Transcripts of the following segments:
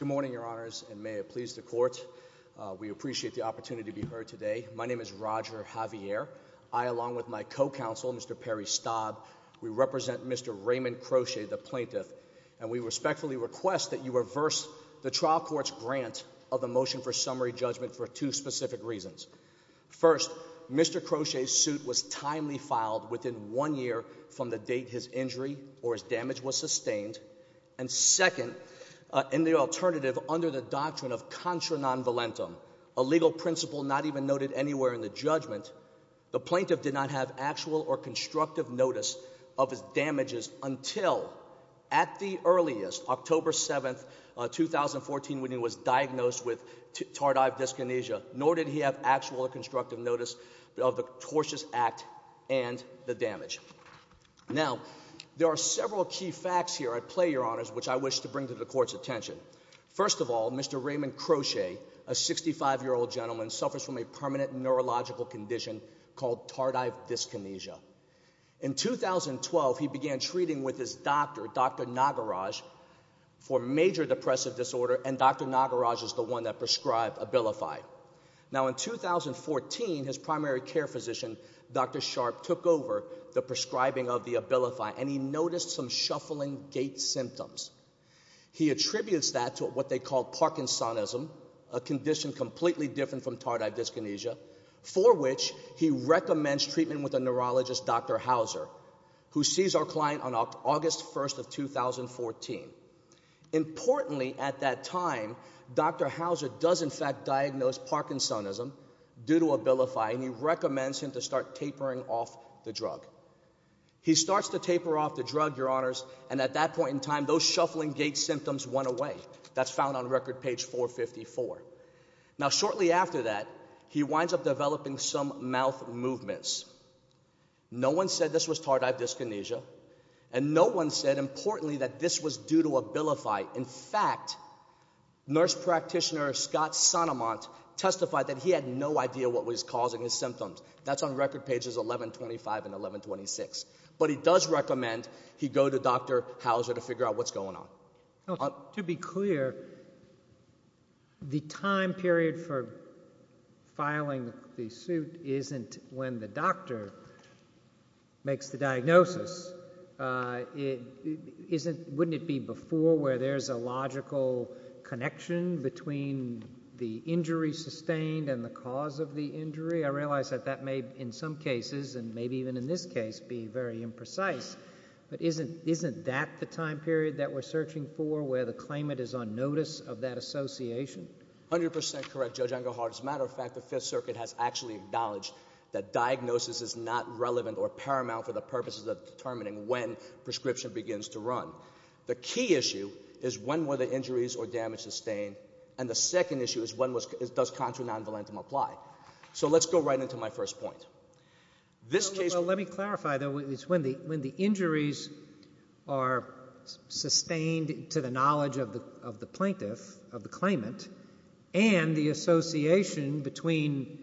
Good morning, Your Honors, and may it please the Court. We appreciate the opportunity to be heard today. My name is Roger Javier. I, along with my co-counsel, Mr. Perry Staub, we represent Mr. Raymond Crochet, the plaintiff, and we respectfully request that you reverse the trial court's grant of the motion for summary judgment for two specific reasons. First, Mr. Crochet's suit was timely filed within one year from the date his injury or his damage was sustained. And second, in the alternative, under the doctrine of contra non volentem, a legal principle not even noted anywhere in the judgment, the plaintiff did not have actual or constructive notice of his damages until, at the earliest, October 7, 2014, when he was diagnosed with tardive dyskinesia, nor did he have actual or constructive notice of the tortious act and the damage. Now, there are several key facts here at play, Your Honors, which I wish to bring to the Court's attention. First of all, Mr. Raymond Crochet, a 65-year-old gentleman, suffers from a permanent neurological condition called tardive dyskinesia. In 2012, he began treating with his doctor, Dr. Nagaraj, for major depressive disorder, and Dr. Nagaraj is the one that prescribed Abilify. Now, in 2014, his primary care physician, Dr. Sharp, took over the prescribing of the Abilify, and he noticed some shuffling gait symptoms. He attributes that to what they called Parkinsonism, a condition completely different from tardive dyskinesia, for which he recommends treatment with a neurologist, Dr. Hauser, who sees our client on August 1 of 2014. Importantly, at that time, Dr. Hauser does in fact diagnose Parkinsonism due to Abilify, and he recommends him to start tapering off the drug. He starts to taper off the drug, Your Honors, and at that point in time, those shuffling gait symptoms went away. That's found on record page 454. Now, shortly after that, he winds up developing some mouth movements. No one said this was tardive dyskinesia, and no one said, importantly, that this was due to Abilify. In fact, nurse practitioner Scott Sonomont testified that he had no idea what was causing his symptoms. That's on record pages 1125 and 1126, but he does recommend he go to Dr. Hauser to figure out what's going on. To be clear, the time period for filing the suit isn't when the doctor makes the diagnosis. Wouldn't it be before where there's a logical connection between the injury sustained and the cause of the injury? I realize that that may, in some cases, and maybe even in this case, be very imprecise, but isn't that the time period that we're searching for where the claimant is on notice of that association? 100% correct, Judge Engelhardt. As a matter of fact, the Fifth Circuit has actually acknowledged that diagnosis is not relevant or paramount for the purposes of determining when prescription begins to run. The key issue is when were the injuries or damage sustained, and the second issue is when does contra-nonvalentam apply. So let's go right into my first point. Well, let me clarify, it's when the injuries are sustained to the knowledge of the plaintiff, of the claimant, and the association between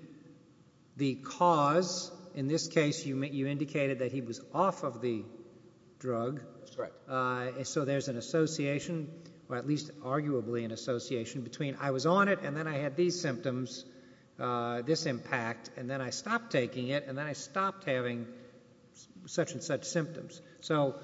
the cause, in this case you indicated that he was off of the drug, so there's an association, or at least arguably an association, between I was on it, and then I had these symptoms, this impact, and then I stopped taking it, and then I stopped having such and such symptoms. So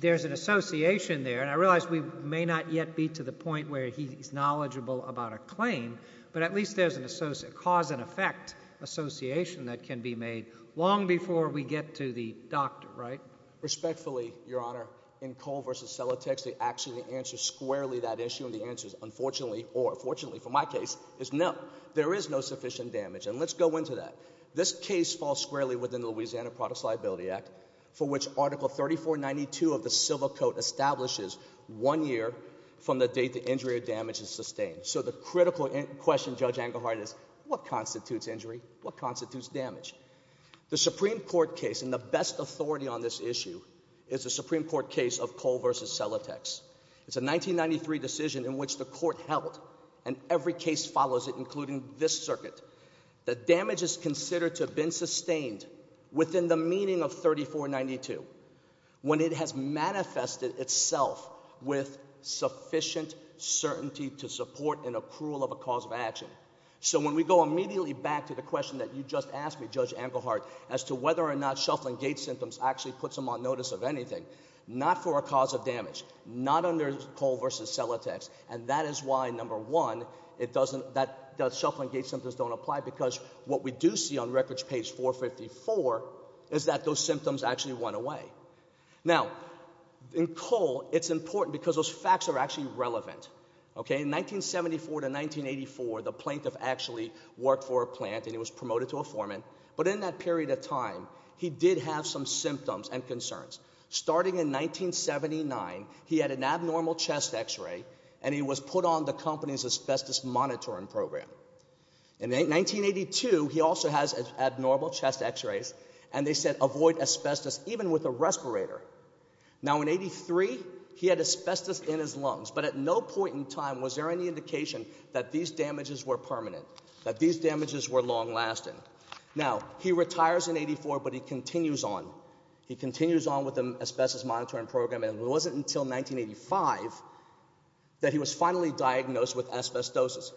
there's an association there, and I realize we may not yet be to the point where he's knowledgeable about a claim, but at least there's a cause and effect association that can be made long before we get to the doctor, right? Respectfully, Your Honor, in Cole v. Celotex, they actually answer squarely that issue, and the answer is unfortunately, or fortunately for my case, is no. There is no sufficient damage, and let's go into that. This case falls squarely within the Louisiana Products Liability Act, for which Article 3492 of the Civil Code establishes one year from the date the injury or damage is sustained. So the critical question, Judge Engelhardt, is what constitutes injury? What constitutes damage? The Supreme Court case, and the best authority on this issue, is the Supreme Court case of Cole v. Celotex. It's a 1993 decision in which the court held, and every case follows it, including this circuit, that damage is considered to have been sustained within the meaning of 3492 when it has manifested itself with sufficient certainty to support an accrual of a cause of action. So when we go immediately back to the question that you just asked me, Judge Engelhardt, as to whether or not shuffling gait symptoms actually puts them on notice of anything, not for a cause of damage, not under Cole v. Celotex. And that is why, number one, that shuffling gait symptoms don't apply, because what we do see on records page 454 is that those symptoms actually went away. Now, in Cole, it's important because those facts are actually relevant, okay? In 1974 to 1984, the plaintiff actually worked for a plant, and he was promoted to a foreman. But in that period of time, he did have some symptoms and concerns. Starting in 1979, he had an abnormal chest x-ray, and he was put on the company's asbestos monitoring program. In 1982, he also has abnormal chest x-rays, and they said avoid asbestos even with a respirator. Now in 83, he had asbestos in his lungs, but at no point in time was there any indication that these damages were permanent, that these damages were long lasting. Now, he retires in 84, but he continues on. He continues on with the asbestos monitoring program, and it wasn't until 1985 that he was finally diagnosed with asbestosis.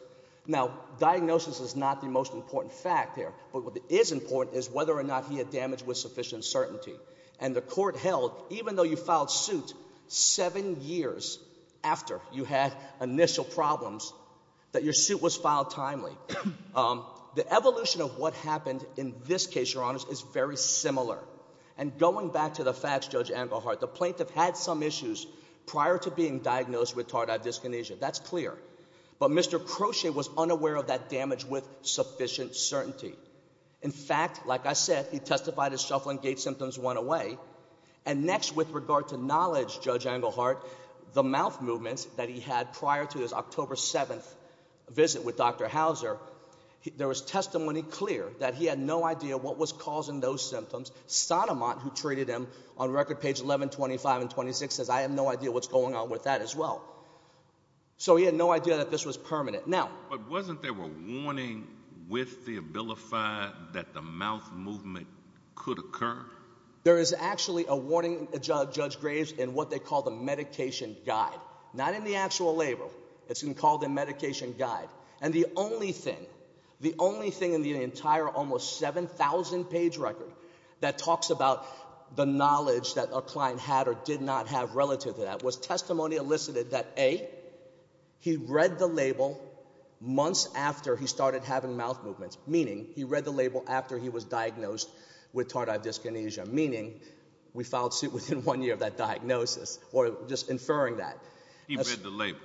Now, diagnosis is not the most important fact here, but what is important is whether or not he had damage with sufficient certainty. And the court held, even though you filed suit seven years after you had initial problems, that your suit was filed timely. The evolution of what happened in this case, your honors, is very similar. And going back to the facts, Judge Amberhart, the plaintiff had some issues prior to being diagnosed with tardive dyskinesia. That's clear. But Mr. Crochet was unaware of that damage with sufficient certainty. In fact, like I said, he testified his shuffling gait symptoms went away. And next, with regard to knowledge, Judge Anglehart, the mouth movements that he had prior to his October 7th visit with Dr. Hauser, there was testimony clear that he had no idea what was causing those symptoms. Sonomont, who treated him on record page 11, 25, and 26, says I have no idea what's going on with that as well. So he had no idea that this was permanent. Now- But wasn't there a warning with the Abilify that the mouth movement could occur? There is actually a warning, Judge Graves, in what they call the medication guide. Not in the actual label. It's been called the medication guide. And the only thing, the only thing in the entire almost 7,000 page record that talks about the knowledge that a client had or did not have relative to that, was testimony elicited that A, he read the label months after he started having mouth movements. Meaning, he read the label after he was diagnosed with tardive dyskinesia. Meaning, we filed suit within one year of that diagnosis, or just inferring that. He read the label.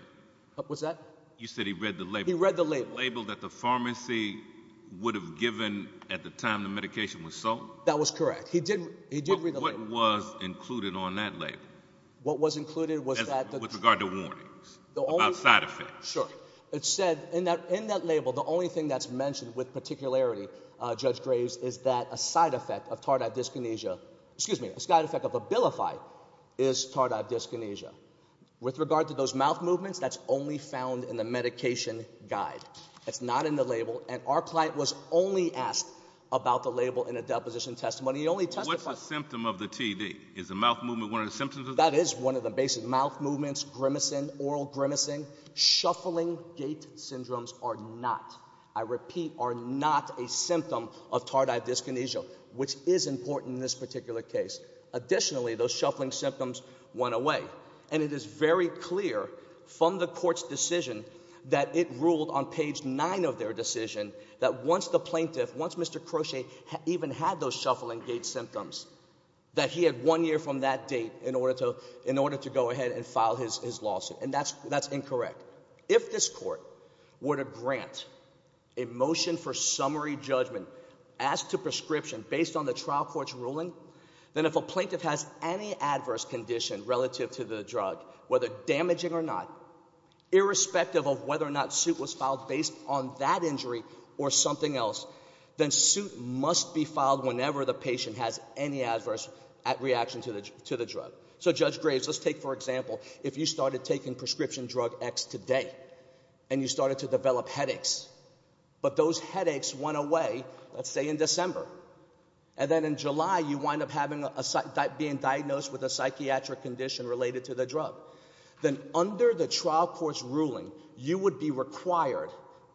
What's that? You said he read the label. He read the label. Label that the pharmacy would have given at the time the medication was sold? That was correct. He did, he did read the label. What was included on that label? What was included was that- With regard to warnings. About side effects. Sure. It said, in that label, the only thing that's mentioned with particularity, Judge Graves, is that a side effect of tardive dyskinesia, excuse me, a side effect of Abilify is tardive dyskinesia. With regard to those mouth movements, that's only found in the medication guide. It's not in the label, and our client was only asked about the label in a deposition testimony. He only testified- What's the symptom of the TD? Is the mouth movement one of the symptoms of the- That is one of the basic mouth movements, grimacing, oral grimacing. Shuffling gait syndromes are not, I repeat, are not a symptom of tardive dyskinesia, which is important in this particular case. Additionally, those shuffling symptoms went away. And it is very clear from the court's decision that it ruled on page nine of their decision that once the plaintiff, once Mr. Crochet even had those shuffling gait symptoms, that he had one year from that date in order to go ahead and file his lawsuit. And that's incorrect. If this court were to grant a motion for summary judgment, asked to prescription based on the trial court's ruling, then if a plaintiff has any adverse condition relative to the drug, whether damaging or not, irrespective of whether or not suit was filed based on that injury or something else, then suit must be filed whenever the patient has any adverse reaction to the drug. So Judge Graves, let's take for example if you started taking prescription drug X today and you started to develop headaches, but those headaches went away, let's say in December, and then in July you wind up being diagnosed with a psychiatric condition related to the drug. Then under the trial court's ruling, you would be required,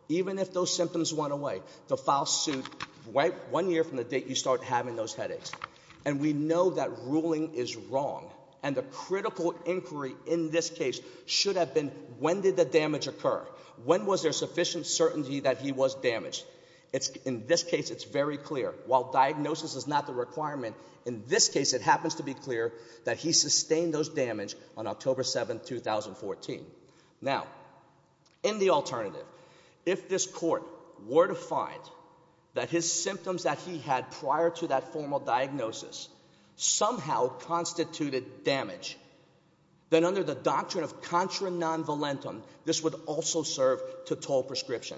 even if those symptoms went away, to file suit one year from the date you start having those headaches. And we know that ruling is wrong. And the critical inquiry in this case should have been, when did the damage occur? When was there sufficient certainty that he was damaged? In this case, it's very clear. While diagnosis is not the requirement, in this case it happens to be clear that he sustained those damage on October 7, 2014. Now, in the alternative, if this court were to find that his symptoms that he had prior to that formal diagnosis somehow constituted damage, then under the doctrine of contra non volentum, this would also serve to toll prescription.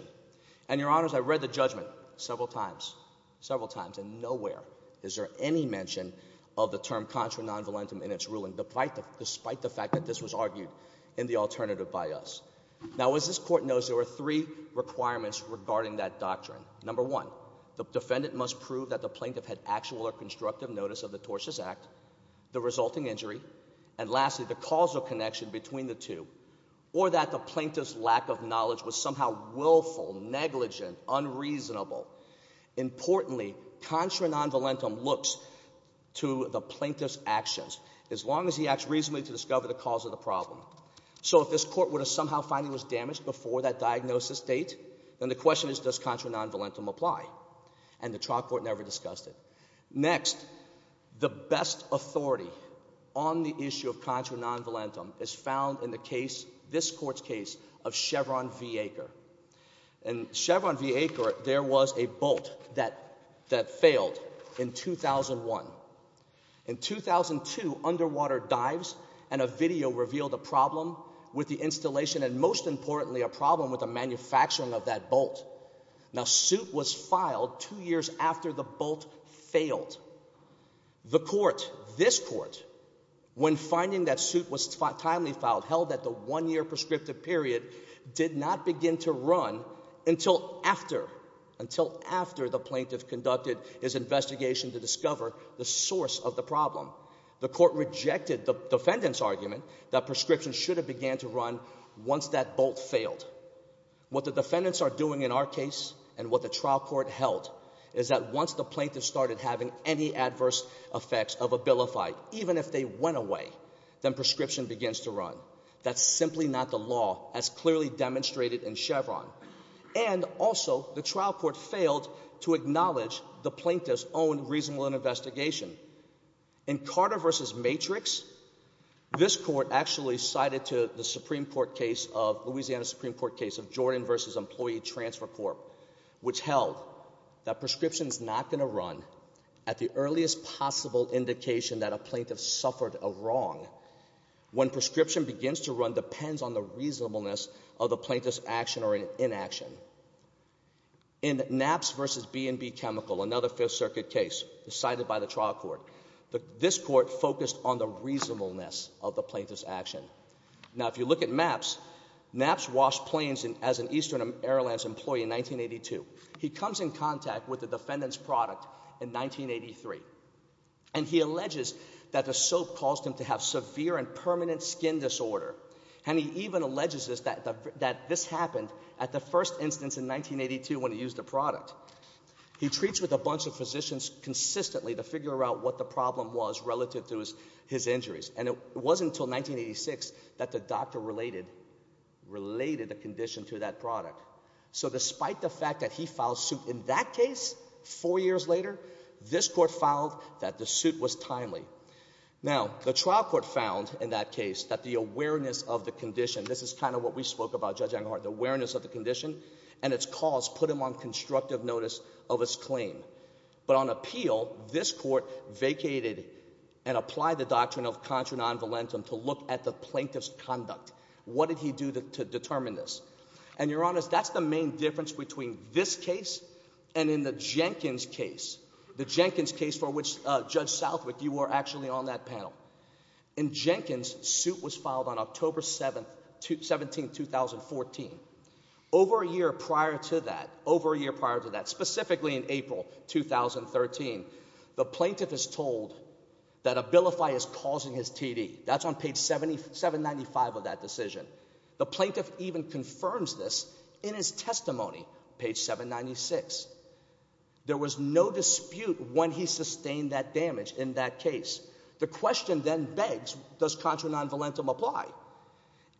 And your honors, I read the judgment several times, several times, and nowhere is there any mention of the term contra non volentum in its ruling, despite the fact that this was argued in the alternative by us. Now, as this court knows, there were three requirements regarding that doctrine. Number one, the defendant must prove that the plaintiff had actual or constructive notice of the tortious act, the resulting injury, and lastly, the causal connection between the two. Or that the plaintiff's lack of knowledge was somehow willful, negligent, unreasonable. Importantly, contra non volentum looks to the plaintiff's actions, as long as he acts reasonably to discover the cause of the problem. So if this court were to somehow find he was damaged before that diagnosis date, then the question is, does contra non volentum apply? And the trial court never discussed it. Next, the best authority on the issue of contra non volentum is found in the case, this court's case, of Chevron v. Baker, there was a bolt that failed in 2001. In 2002, underwater dives and a video revealed a problem with the installation, and most importantly, a problem with the manufacturing of that bolt. Now, suit was filed two years after the bolt failed. The court, this court, when finding that suit was timely filed, held that the one year prescriptive period did not begin to run until after, until after the plaintiff conducted his investigation to discover the source of the problem. The court rejected the defendant's argument that prescription should have began to run once that bolt failed. What the defendants are doing in our case, and what the trial court held, is that once the plaintiff started having any adverse effects of a billified, even if they went away, then prescription begins to run. That's simply not the law, as clearly demonstrated in Chevron. And also, the trial court failed to acknowledge the plaintiff's own reasonable investigation. In Carter v. Matrix, this court actually cited to the Supreme Court case of, Louisiana Supreme Court case of Jordan v. Employee Transfer Corp, which held that prescription's not going to run at the earliest possible indication that a plaintiff suffered a wrong. When prescription begins to run depends on the reasonableness of the plaintiff's action or inaction. In Naps v. B&B Chemical, another Fifth Circuit case decided by the trial court, this court focused on the reasonableness of the plaintiff's action. Now, if you look at Naps, Naps washed planes as an Eastern Airlines employee in 1982. He comes in contact with the defendant's product in 1983. And he alleges that the soap caused him to have severe and permanent skin disorder. And he even alleges that this happened at the first instance in 1982 when he used the product. He treats with a bunch of physicians consistently to figure out what the problem was relative to his injuries. And it wasn't until 1986 that the doctor related the condition to that product. So despite the fact that he filed suit in that case, four years later, this court filed that the suit was timely. Now, the trial court found in that case that the awareness of the condition, this is kind of what we spoke about, Judge Enghart, the awareness of the condition and its cause put him on constructive notice of his claim. But on appeal, this court vacated and applied the doctrine of contra non-valentum to look at the plaintiff's conduct. What did he do to determine this? And you're honest, that's the main difference between this case and in the Jenkins case. The Jenkins case for which Judge Southwick, you were actually on that panel. In Jenkins, suit was filed on October 17th, 2014. Over a year prior to that, specifically in April 2013, the plaintiff is told that Abilify is causing his TD. That's on page 795 of that decision. The plaintiff even confirms this in his testimony, page 796. There was no dispute when he sustained that damage in that case. The question then begs, does contra non-valentum apply?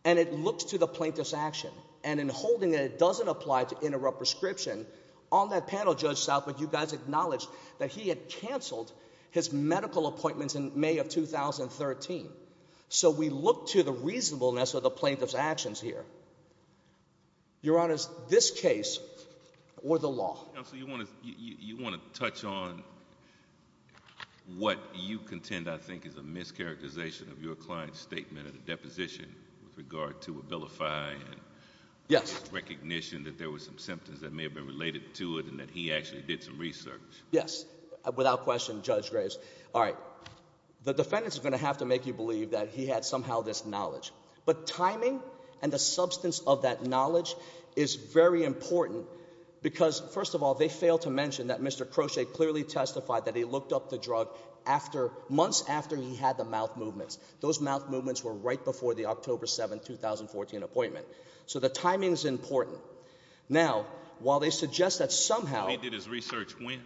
And it looks to the plaintiff's action. And in holding it, it doesn't apply to interrupt prescription. On that panel, Judge Southwick, you guys acknowledged that he had canceled his medical appointments in May of 2013. So we look to the reasonableness of the plaintiff's actions here. Your Honor, this case or the law. Counsel, you wanna touch on what you contend, I think, is a mischaracterization of your client's statement of the deposition with regard to Abilify. Yes. Recognition that there was some symptoms that may have been related to it and that he actually did some research. Yes, without question, Judge Graves. All right, the defendants are going to have to make you believe that he had somehow this knowledge. But timing and the substance of that knowledge is very important. Because, first of all, they fail to mention that Mr. Crochet clearly testified that he looked up the drug months after he had the mouth movements. Those mouth movements were right before the October 7, 2014 appointment. So the timing's important. Now, while they suggest that somehow- He did his research when?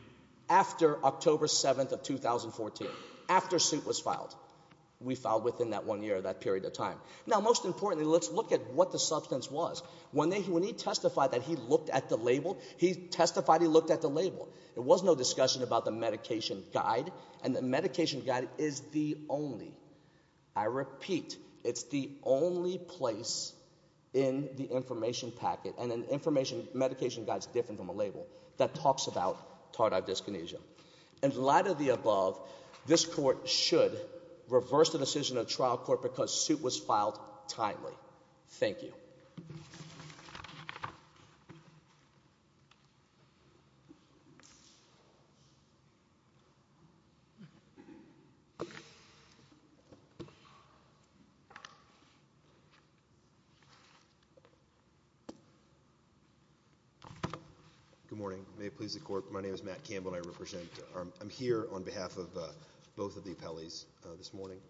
After October 7th of 2014, after suit was filed. We filed within that one year, that period of time. Now, most importantly, let's look at what the substance was. When he testified that he looked at the label, he testified he looked at the label. There was no discussion about the medication guide, and the medication guide is the only, I repeat, it's the only place in the information packet. And an information, medication guide's different from a label that talks about tardive dyskinesia. And the latter of the above, this court should reverse the decision of trial court because suit was filed timely. Thank you. Good morning. May it please the court, my name is Matt Campbell and I represent, I'm here on behalf of both of the appellees this morning.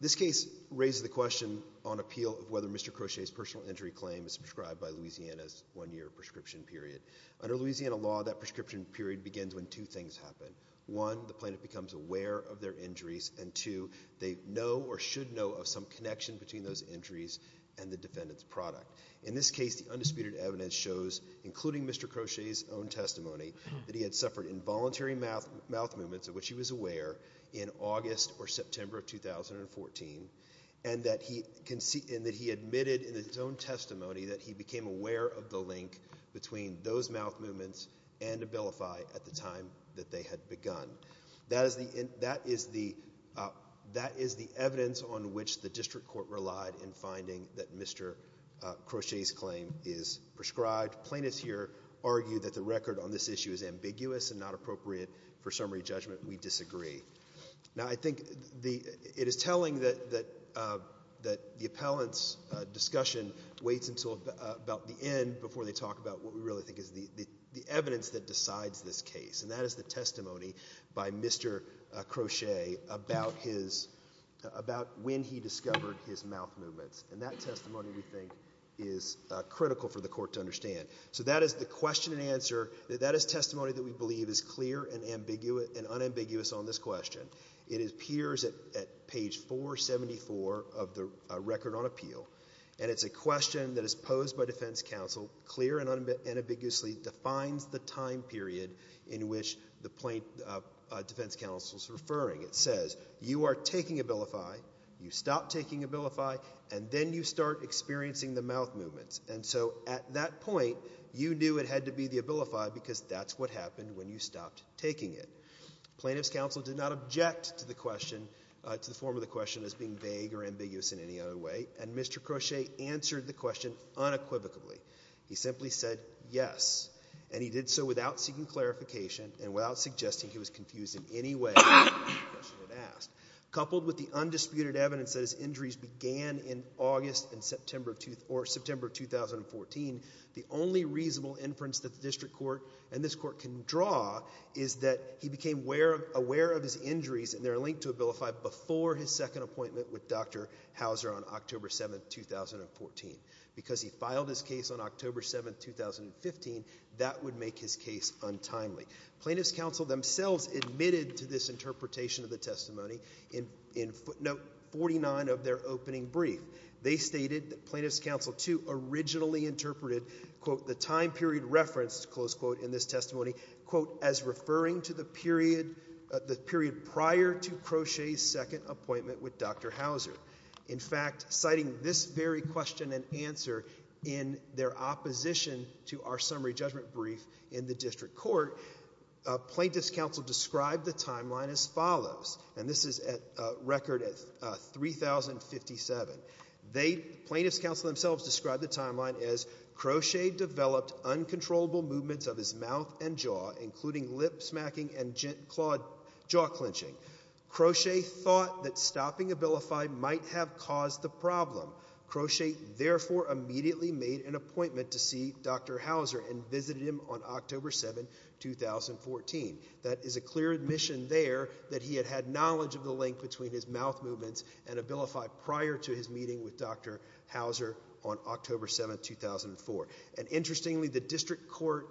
This case raises the question on appeal of whether Mr. Crochet's personal injury claim is prescribed by Louisiana's one year prescription period. Under Louisiana law, that prescription period begins when two things happen. One, the plaintiff becomes aware of their injuries. And two, they know or should know of some connection between those injuries and the defendant's product. In this case, the undisputed evidence shows, including Mr. Crochet's own testimony, that he had suffered involuntary mouth movements, of which he was aware, in August or September of 2014. And that he admitted in his own testimony that he became aware of the link between those mouth movements and Abilify at the time that they had begun. That is the evidence on which the district court relied in finding that Mr. Crochet's claim is prescribed. Plaintiffs here argue that the record on this issue is ambiguous and not appropriate for summary judgment. We disagree. Now I think it is telling that the appellant's discussion waits until about the end before they talk about what we really think is the evidence that decides this case. And that is the testimony by Mr. Crochet about when he discovered his mouth movements. And that testimony, we think, is critical for the court to understand. So that is the question and answer. That is testimony that we believe is clear and unambiguous on this question. It appears at page 474 of the record on appeal. And it's a question that is posed by defense counsel, clear and unambiguously defines the time period in which the defense counsel is referring. It says, you are taking Abilify, you stop taking Abilify, and then you start experiencing the mouth movements. And so at that point, you knew it had to be the Abilify because that's what happened when you stopped taking it. Plaintiff's counsel did not object to the question, to the form of the question as being vague or ambiguous in any other way. And Mr. Crochet answered the question unequivocally. He simply said yes. And he did so without seeking clarification and without suggesting he was confused in any way. Coupled with the undisputed evidence that his injuries began in August and September of 2014, the only reasonable inference that the district court and this court can draw is that he became aware of his injuries and they're linked to Abilify before his second appointment with Dr. Hauser on October 7, 2014. Because he filed his case on October 7, 2015, that would make his case untimely. Plaintiff's counsel themselves admitted to this interpretation of the testimony. In footnote 49 of their opening brief, they stated that plaintiff's counsel, too, originally interpreted, quote, the time period referenced, close quote, in this testimony, quote, as referring to the period prior to Crochet's second appointment with Dr. Hauser. In fact, citing this very question and answer in their opposition to our summary judgment brief in the district court, plaintiff's counsel described the timeline as follows. And this is a record of 3,057. Plaintiff's counsel themselves described the timeline as Crochet developed uncontrollable movements of his mouth and jaw, including lip smacking and jaw clenching. Crochet thought that stopping Abilify might have caused the problem. Crochet therefore immediately made an appointment to see Dr. Hauser and visited him on October 7, 2014. That is a clear admission there that he had had knowledge of the link between his mouth movements and Abilify prior to his meeting with Dr. Hauser on October 7, 2004. And interestingly, the district court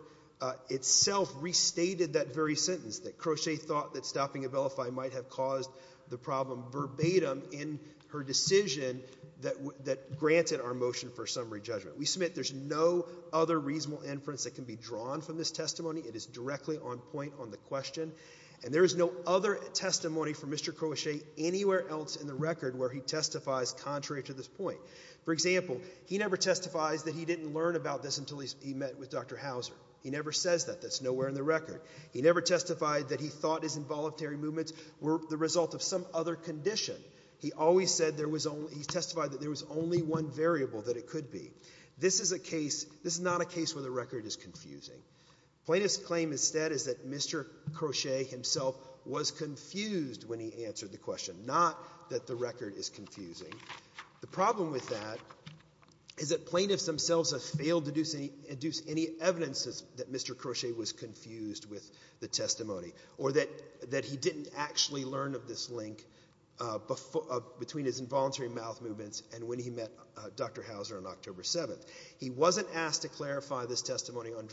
itself restated that very sentence, that Crochet thought that stopping Abilify might have caused the problem verbatim in her decision that granted our motion for summary judgment. We submit there's no other reasonable inference that can be drawn from this testimony. It is directly on point on the question. And there is no other testimony from Mr. Crochet anywhere else in the record where he testifies contrary to this point. For example, he never testifies that he didn't learn about this until he met with Dr. Hauser. He never says that. That's nowhere in the record. He never testified that he thought his involuntary movements were the result of some other condition. He testified that there was only one variable that it could be. This is not a case where the record is confusing. Plaintiff's claim instead is that Mr. Crochet himself was confused when he answered the question, not that the record is confusing. The problem with that is that plaintiffs themselves have failed to deduce any evidence that Mr. Crochet was confused with the testimony or that he didn't actually learn of this link between his involuntary mouth movements and when he met Dr. Hauser on October 7th. He wasn't asked to clarify this testimony on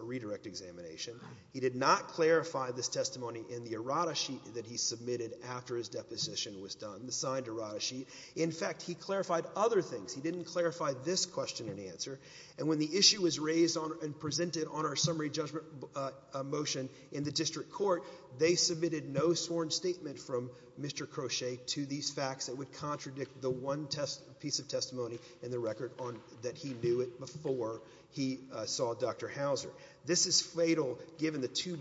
redirect examination. He did not clarify this testimony in the errata sheet that he submitted after his deposition was done, the signed errata sheet. In fact, he clarified other things. He didn't clarify this question and answer. And when the issue was raised and presented on our summary judgment motion in the district court, they submitted no sworn statement from Mr. Crochet to these facts that would contradict the one piece of testimony in the record that he knew it before he saw Dr. Hauser. This is fatal given the two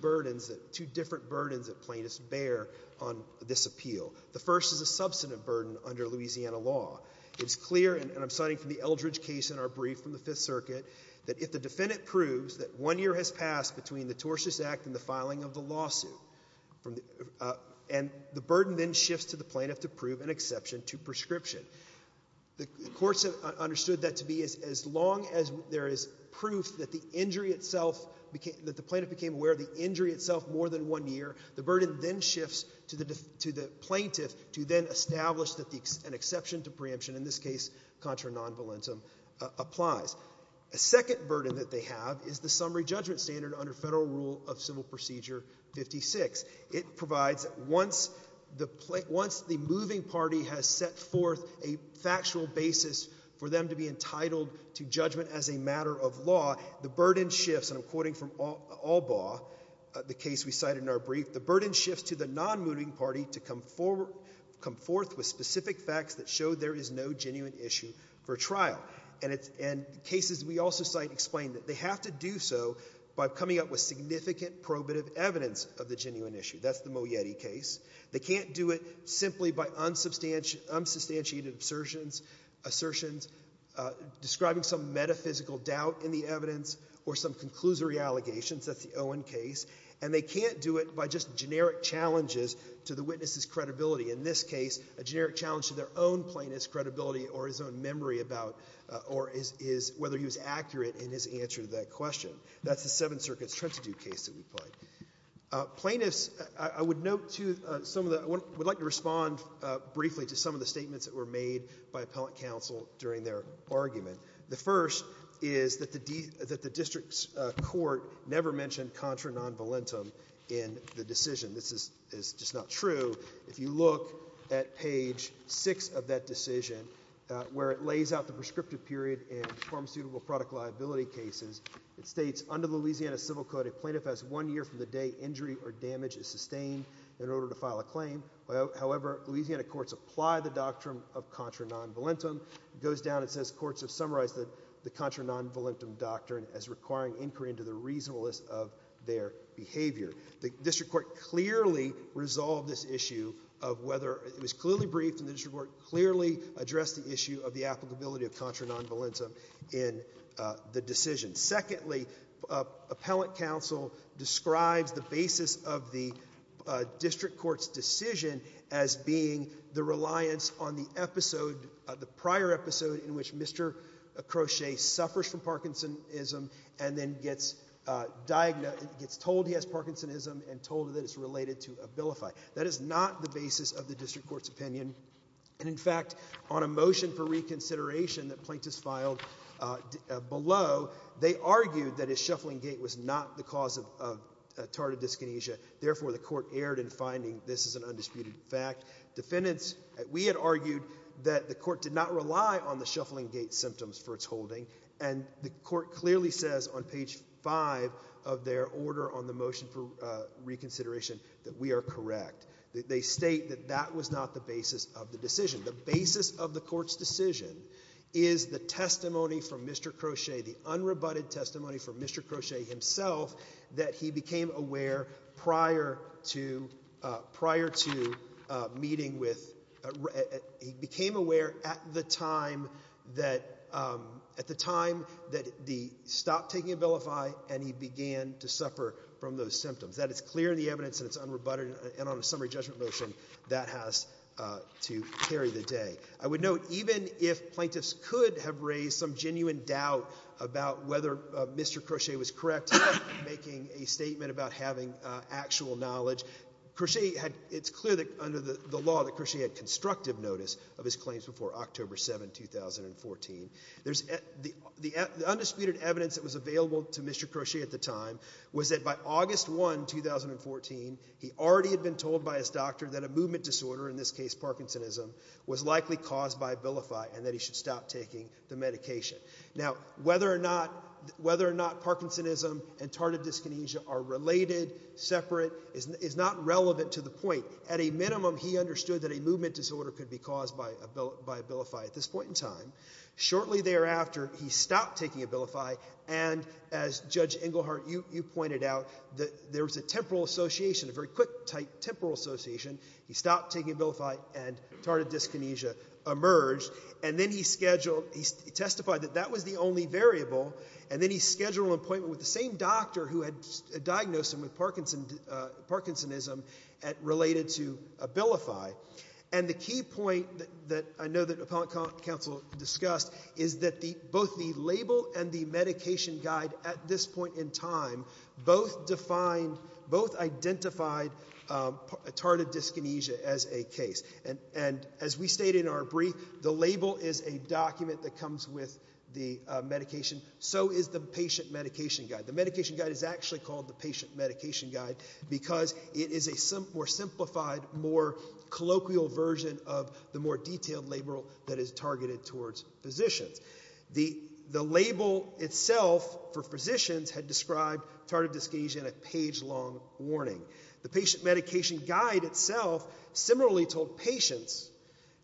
different burdens that plaintiffs bear on this appeal. The first is a substantive burden under Louisiana law. It's clear, and I'm citing from the Eldridge case in our brief from the Fifth Circuit, that if the defendant proves that one year has passed between the tortious act and the filing of the lawsuit, and the burden then shifts to the plaintiff to prove an exception to prescription, the courts have understood that to be as long as there is proof that the injury itself, that the plaintiff became aware of the injury itself more than one year, the burden then shifts to the plaintiff to then establish that an exception to preemption, in this case contra non volentem, applies. A second burden that they have is the summary judgment standard under federal rule of civil procedure 56. It provides once the moving party has set forth a factual basis for them to be entitled to judgment as a matter of law, the burden shifts, and I'm quoting from Albaugh, the case we cited in our brief, the burden shifts to the non-moving party to come forth with specific facts that show there is no genuine issue for trial. And cases we also cite explain that they have to do so by coming up with significant probative evidence of the genuine issue. That's the Mojete case. They can't do it simply by unsubstantiated assertions, describing some metaphysical doubt in the evidence or some conclusory allegations. That's the Owen case. And they can't do it by just generic challenges to the witness's credibility. In this case, a generic challenge to their own plaintiff's credibility or his own memory about whether he was accurate in his answer to that question. That's the Seventh Circuit's Trentitude case that we played. Plaintiffs, I would like to respond briefly to some of the statements that were made by appellate counsel during their argument. The first is that the district's court never mentioned contra non volentum in the decision. This is just not true. If you look at page six of that decision, where it lays out the prescriptive period in pharmaceutical product liability cases, it states, under the Louisiana Civil Code, a plaintiff has one year from the day injury or damage is sustained in order to file a claim. However, Louisiana courts apply the doctrine of contra non volentum. It goes down and says courts have summarized the contra non volentum doctrine as requiring inquiry into the reasonableness of their behavior. The district court clearly resolved this issue of whether it was clearly briefed and the district court clearly addressed the issue of the applicability of contra non volentum in the decision. Secondly, appellate counsel describes the basis of the district court's decision as being the reliance on the episode, the prior episode in which Mr. Crochet suffers from Parkinsonism and then gets told he has Parkinsonism and told that it's related to a vilify. That is not the basis of the district court's opinion. And in fact, on a motion for reconsideration that plaintiffs filed below, they argued that his shuffling gait was not the cause of tardive dyskinesia. Therefore, the court erred in finding this is an undisputed fact. Defendants, we had argued that the court did not rely on the shuffling gait symptoms for its holding. And the court clearly says on page five of their order on the motion for reconsideration that we are correct. They state that that was not the basis of the decision. The basis of the court's decision is the testimony from Mr. Crochet, the unrebutted testimony from Mr. Crochet himself, that he became aware prior to prior to meeting with. He became aware at the time that at the time that the stop taking a vilify. And he began to suffer from those symptoms. That is clear in the evidence and it's unrebutted. And on a summary judgment motion, that has to carry the day. I would note even if plaintiffs could have raised some genuine doubt about whether Mr. Crochet was correct in making a statement about having actual knowledge, it's clear that under the law that Crochet had constructive notice of his claims before October 7, 2014. The undisputed evidence that was available to Mr. Crochet at the time was that by August 1, 2014, he already had been told by his doctor that a movement disorder, in this case Parkinsonism, was likely caused by vilify and that he should stop taking the medication. Now, whether or not Parkinsonism and tardive dyskinesia are related, separate, is not relevant to the point. At a minimum, he understood that a movement disorder could be caused by vilify at this point in time. Shortly thereafter, he stopped taking vilify. And as Judge Engelhardt, you pointed out, there was a temporal association, a very quick type temporal association. He stopped taking vilify and tardive dyskinesia emerged. And then he scheduled, he testified that that was the only variable. And then he scheduled an appointment with the same doctor who had diagnosed him with Parkinsonism related to vilify. And the key point that I know that appellate counsel discussed is that both the label and the medication guide at this point in time both defined, both identified tardive dyskinesia as a case. And as we stated in our brief, the label is a document that comes with the medication. So is the patient medication guide. The medication guide is actually called the patient medication guide because it is a more simplified, more colloquial version of the more detailed label that is targeted towards physicians. The label itself for physicians had described tardive dyskinesia in a page long warning. The patient medication guide itself similarly told patients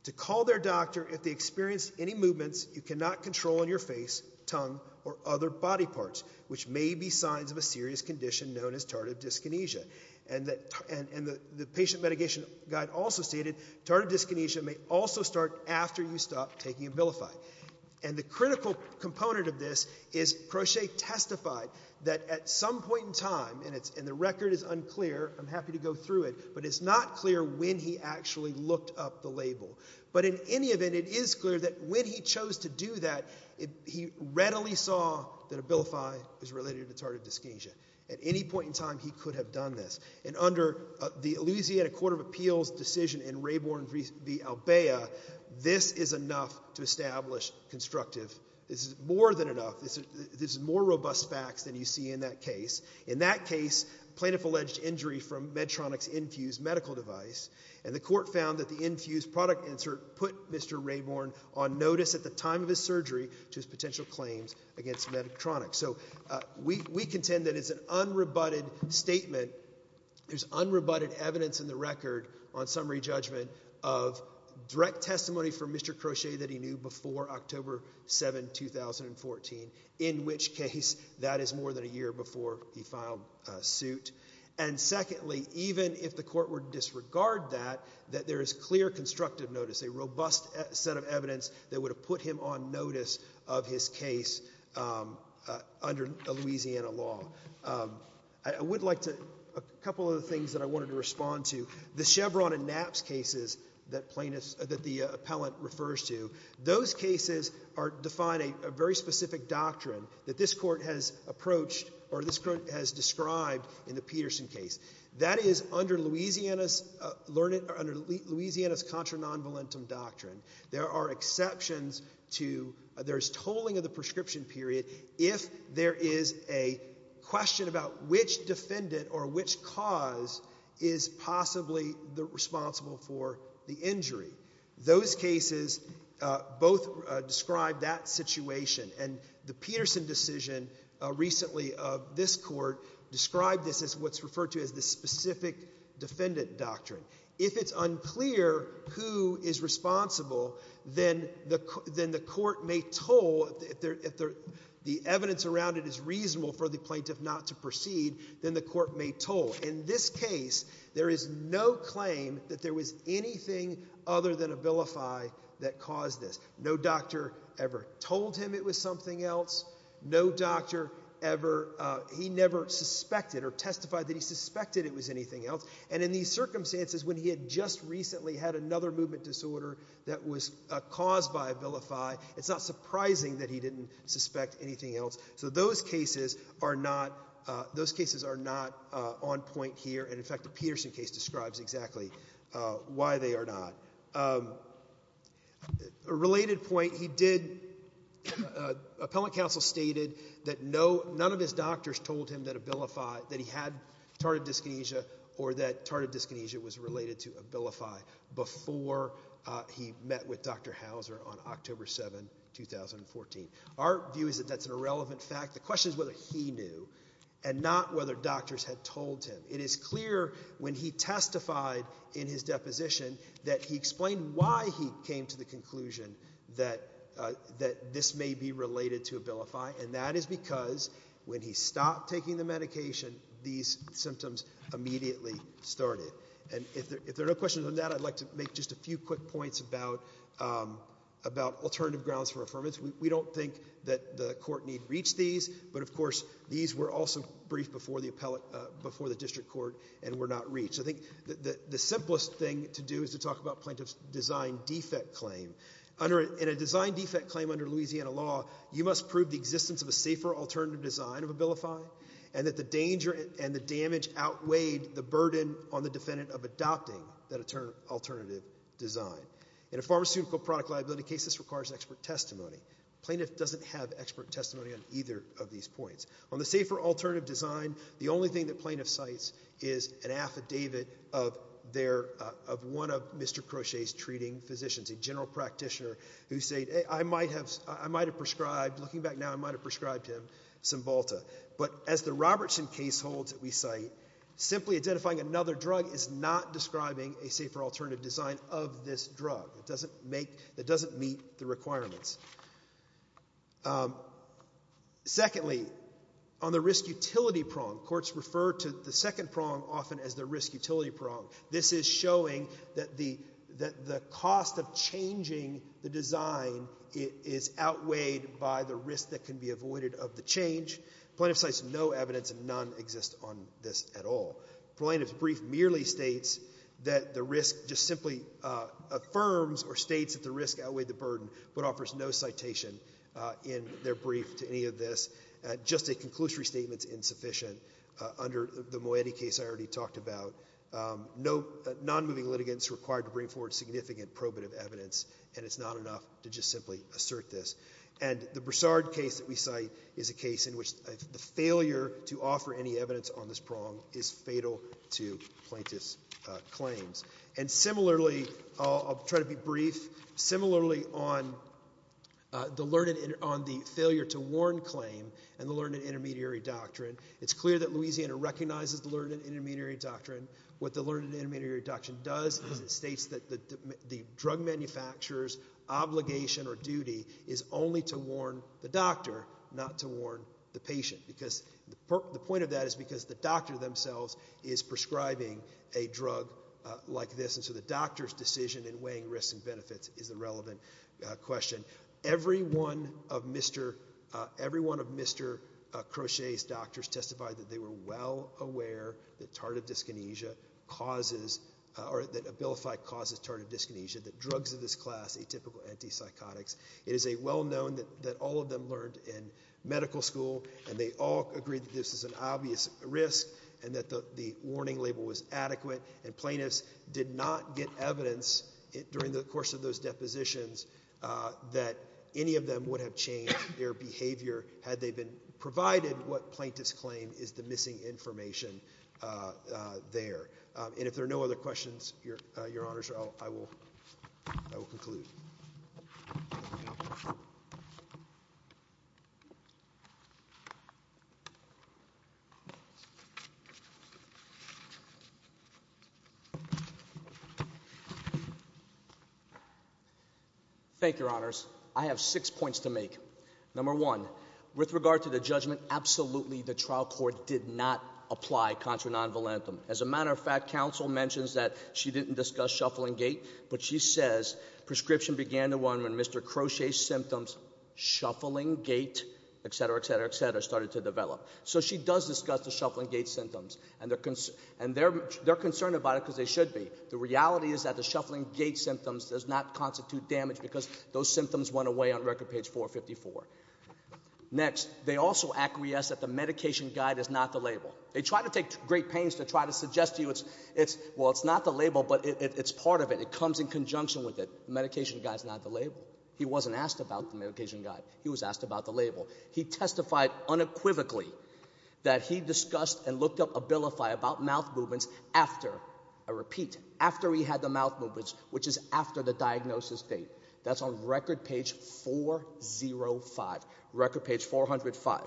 to call their doctor if they experienced any movements you cannot control in your face, tongue, or other body parts, which may be signs of a serious condition known as tardive dyskinesia. And the patient medication guide also stated tardive dyskinesia may also start after you stop taking vilify. And the critical component of this is Crochet testified that at some point in time, and the record is unclear, I'm happy to go through it, but it's not clear when he actually looked up the label. But in any event, it is clear that when he chose to do that, he readily saw that vilify is related to tardive dyskinesia. At any point in time, he could have done this. And under the Louisiana Court of Appeals decision in Raybourn v. Albaea, this is enough to establish constructive. This is more than enough. This is more robust facts than you see in that case. In that case, plaintiff alleged injury from Medtronic's infused medical device. And the court found that the infused product insert put Mr. Raybourn on notice at the time of his surgery to his potential claims against Medtronic. So we contend that it's an unrebutted statement. There's unrebutted evidence in the record on summary judgment of direct testimony from Mr. Crochet that he knew before October 7, 2014, in which case that is more than a year before he filed suit. And secondly, even if the court were to disregard that, that there is clear constructive notice, a robust set of evidence that would have put him on notice of his case under Louisiana law. I would like to – a couple of things that I wanted to respond to. The Chevron and Knapp's cases that plaintiffs – that the appellant refers to, those cases are – define a very specific doctrine that this court has approached or this court has described in the Peterson case. That is under Louisiana's – under Louisiana's contra non-valentum doctrine. There are exceptions to – there is tolling of the prescription period if there is a question about which defendant or which cause is possibly responsible for the injury. Those cases both describe that situation. And the Peterson decision recently of this court described this as what's referred to as the specific defendant doctrine. If it's unclear who is responsible, then the court may toll – if the evidence around it is reasonable for the plaintiff not to proceed, then the court may toll. In this case, there is no claim that there was anything other than a vilify that caused this. No doctor ever told him it was something else. No doctor ever – he never suspected or testified that he suspected it was anything else. And in these circumstances, when he had just recently had another movement disorder that was caused by a vilify, it's not surprising that he didn't suspect anything else. So those cases are not – those cases are not on point here. And, in fact, the Peterson case describes exactly why they are not. A related point he did – appellant counsel stated that no – none of his doctors told him that a vilify – that he had tardive dyskinesia or that tardive dyskinesia was related to a vilify before he met with Dr. Hauser on October 7, 2014. Our view is that that's an irrelevant fact. The question is whether he knew and not whether doctors had told him. It is clear when he testified in his deposition that he explained why he came to the conclusion that this may be related to a vilify. And that is because when he stopped taking the medication, these symptoms immediately started. And if there are no questions on that, I'd like to make just a few quick points about alternative grounds for affirmance. We don't think that the court need reach these, but, of course, these were also briefed before the district court and were not reached. I think the simplest thing to do is to talk about plaintiff's design defect claim. In a design defect claim under Louisiana law, you must prove the existence of a safer alternative design of a vilify and that the danger and the damage outweighed the burden on the defendant of adopting that alternative design. In a pharmaceutical product liability case, this requires expert testimony. Plaintiff doesn't have expert testimony on either of these points. On the safer alternative design, the only thing that plaintiff cites is an affidavit of one of Mr. Crochet's treating physicians, a general practitioner, who said, I might have prescribed, looking back now, I might have prescribed him Cymbalta. But as the Robertson case holds that we cite, simply identifying another drug is not describing a safer alternative design of this drug. It doesn't meet the requirements. Secondly, on the risk utility prong, courts refer to the second prong often as the risk utility prong. This is showing that the cost of changing the design is outweighed by the risk that can be avoided of the change. Plaintiff cites no evidence and none exist on this at all. Plaintiff's brief merely states that the risk just simply affirms or states that the risk outweighed the burden but offers no citation in their brief to any of this. Just a conclusory statement is insufficient under the Moetti case I already talked about. Non-moving litigants required to bring forward significant probative evidence and it's not enough to just simply assert this. And the Broussard case that we cite is a case in which the failure to offer any evidence on this prong is fatal to plaintiff's claims. And similarly, I'll try to be brief, similarly on the failure to warn claim and the learned and intermediary doctrine, it's clear that Louisiana recognizes the learned and intermediary doctrine. What the learned and intermediary doctrine does is it states that the drug manufacturer's obligation or duty is only to warn the doctor not to warn the patient because the point of that is because the doctor themselves is prescribing a drug like this and so the doctor's decision in weighing risks and benefits is a relevant question. Every one of Mr. Crochet's doctors testified that they were well aware that tardive dyskinesia causes or that Abilify causes tardive dyskinesia, that drugs of this class, atypical antipsychotics, it is a well-known that all of them learned in medical school and they all agreed that this is an obvious risk and that the warning label was adequate and plaintiffs did not get evidence during the course of those depositions that any of them would have changed their behavior had they been provided what plaintiffs claim is the missing information there. And if there are no other questions, Your Honors, I will conclude. Thank you, Your Honors. I have six points to make. Number one, with regard to the judgment, absolutely the trial court did not apply contra non-volantum. As a matter of fact, counsel mentions that she didn't discuss shuffling gait, but she says prescription began the one when Mr. Crochet's symptoms, shuffling gait, etc., etc., etc., started to develop. So she does discuss the shuffling gait symptoms, and they're concerned about it because they should be. The reality is that the shuffling gait symptoms does not constitute damage because those symptoms went away on record page 454. Next, they also acquiesce that the medication guide is not the label. They try to take great pains to try to suggest to you, well, it's not the label, but it's part of it. It comes in conjunction with it. The medication guide is not the label. He wasn't asked about the medication guide. He was asked about the label. He testified unequivocally that he discussed and looked up Abilify about mouth movements after, I repeat, after he had the mouth movements, which is after the diagnosis date. That's on record page 405, record page 405.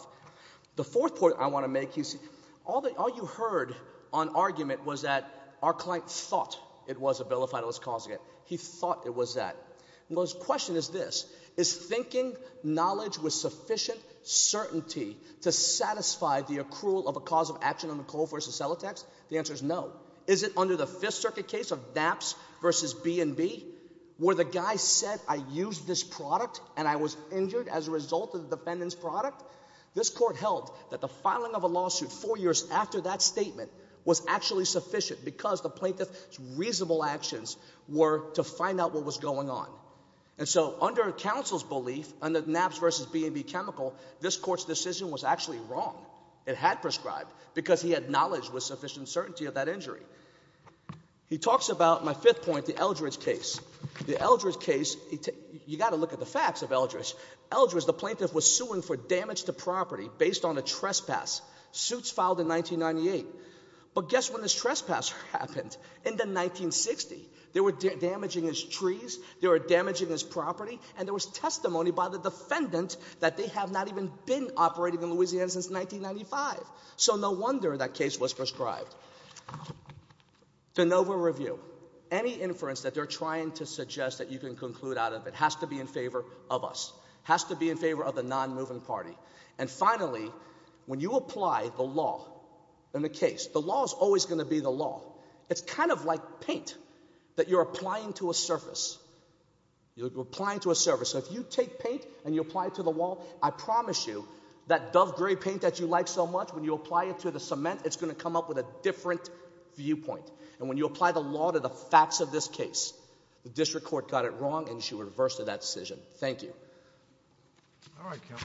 The fourth point I want to make is all you heard on argument was that our client thought it was Abilify that was causing it. He thought it was that. Well, his question is this. Is thinking knowledge with sufficient certainty to satisfy the accrual of a cause of action on McCall v. Celotex? The answer is no. Is it under the Fifth Circuit case of DAPS v. B&B where the guy said I used this product and I was injured as a result of the defendant's product? This court held that the filing of a lawsuit four years after that statement was actually sufficient because the plaintiff's reasonable actions were to find out what was going on. And so under counsel's belief, under DAPS v. B&B chemical, this court's decision was actually wrong. It had prescribed because he had knowledge with sufficient certainty of that injury. He talks about my fifth point, the Eldridge case. The Eldridge case, you got to look at the facts of Eldridge. Eldridge, the plaintiff, was suing for damage to property based on a trespass. Suits filed in 1998. But guess when this trespass happened? In the 1960s. They were damaging his trees. They were damaging his property. And there was testimony by the defendant that they have not even been operating in Louisiana since 1995. So no wonder that case was prescribed. De novo review. Any inference that they're trying to suggest that you can conclude out of it has to be in favor of us. Has to be in favor of the non-moving party. And finally, when you apply the law in a case, the law is always going to be the law. It's kind of like paint that you're applying to a surface. You're applying to a surface. So if you take paint and you apply it to the wall, I promise you that dove gray paint that you like so much, when you apply it to the cement, it's going to come up with a different viewpoint. And when you apply the law to the facts of this case, the district court got it wrong and you should reverse that decision. Thank you. All right, count.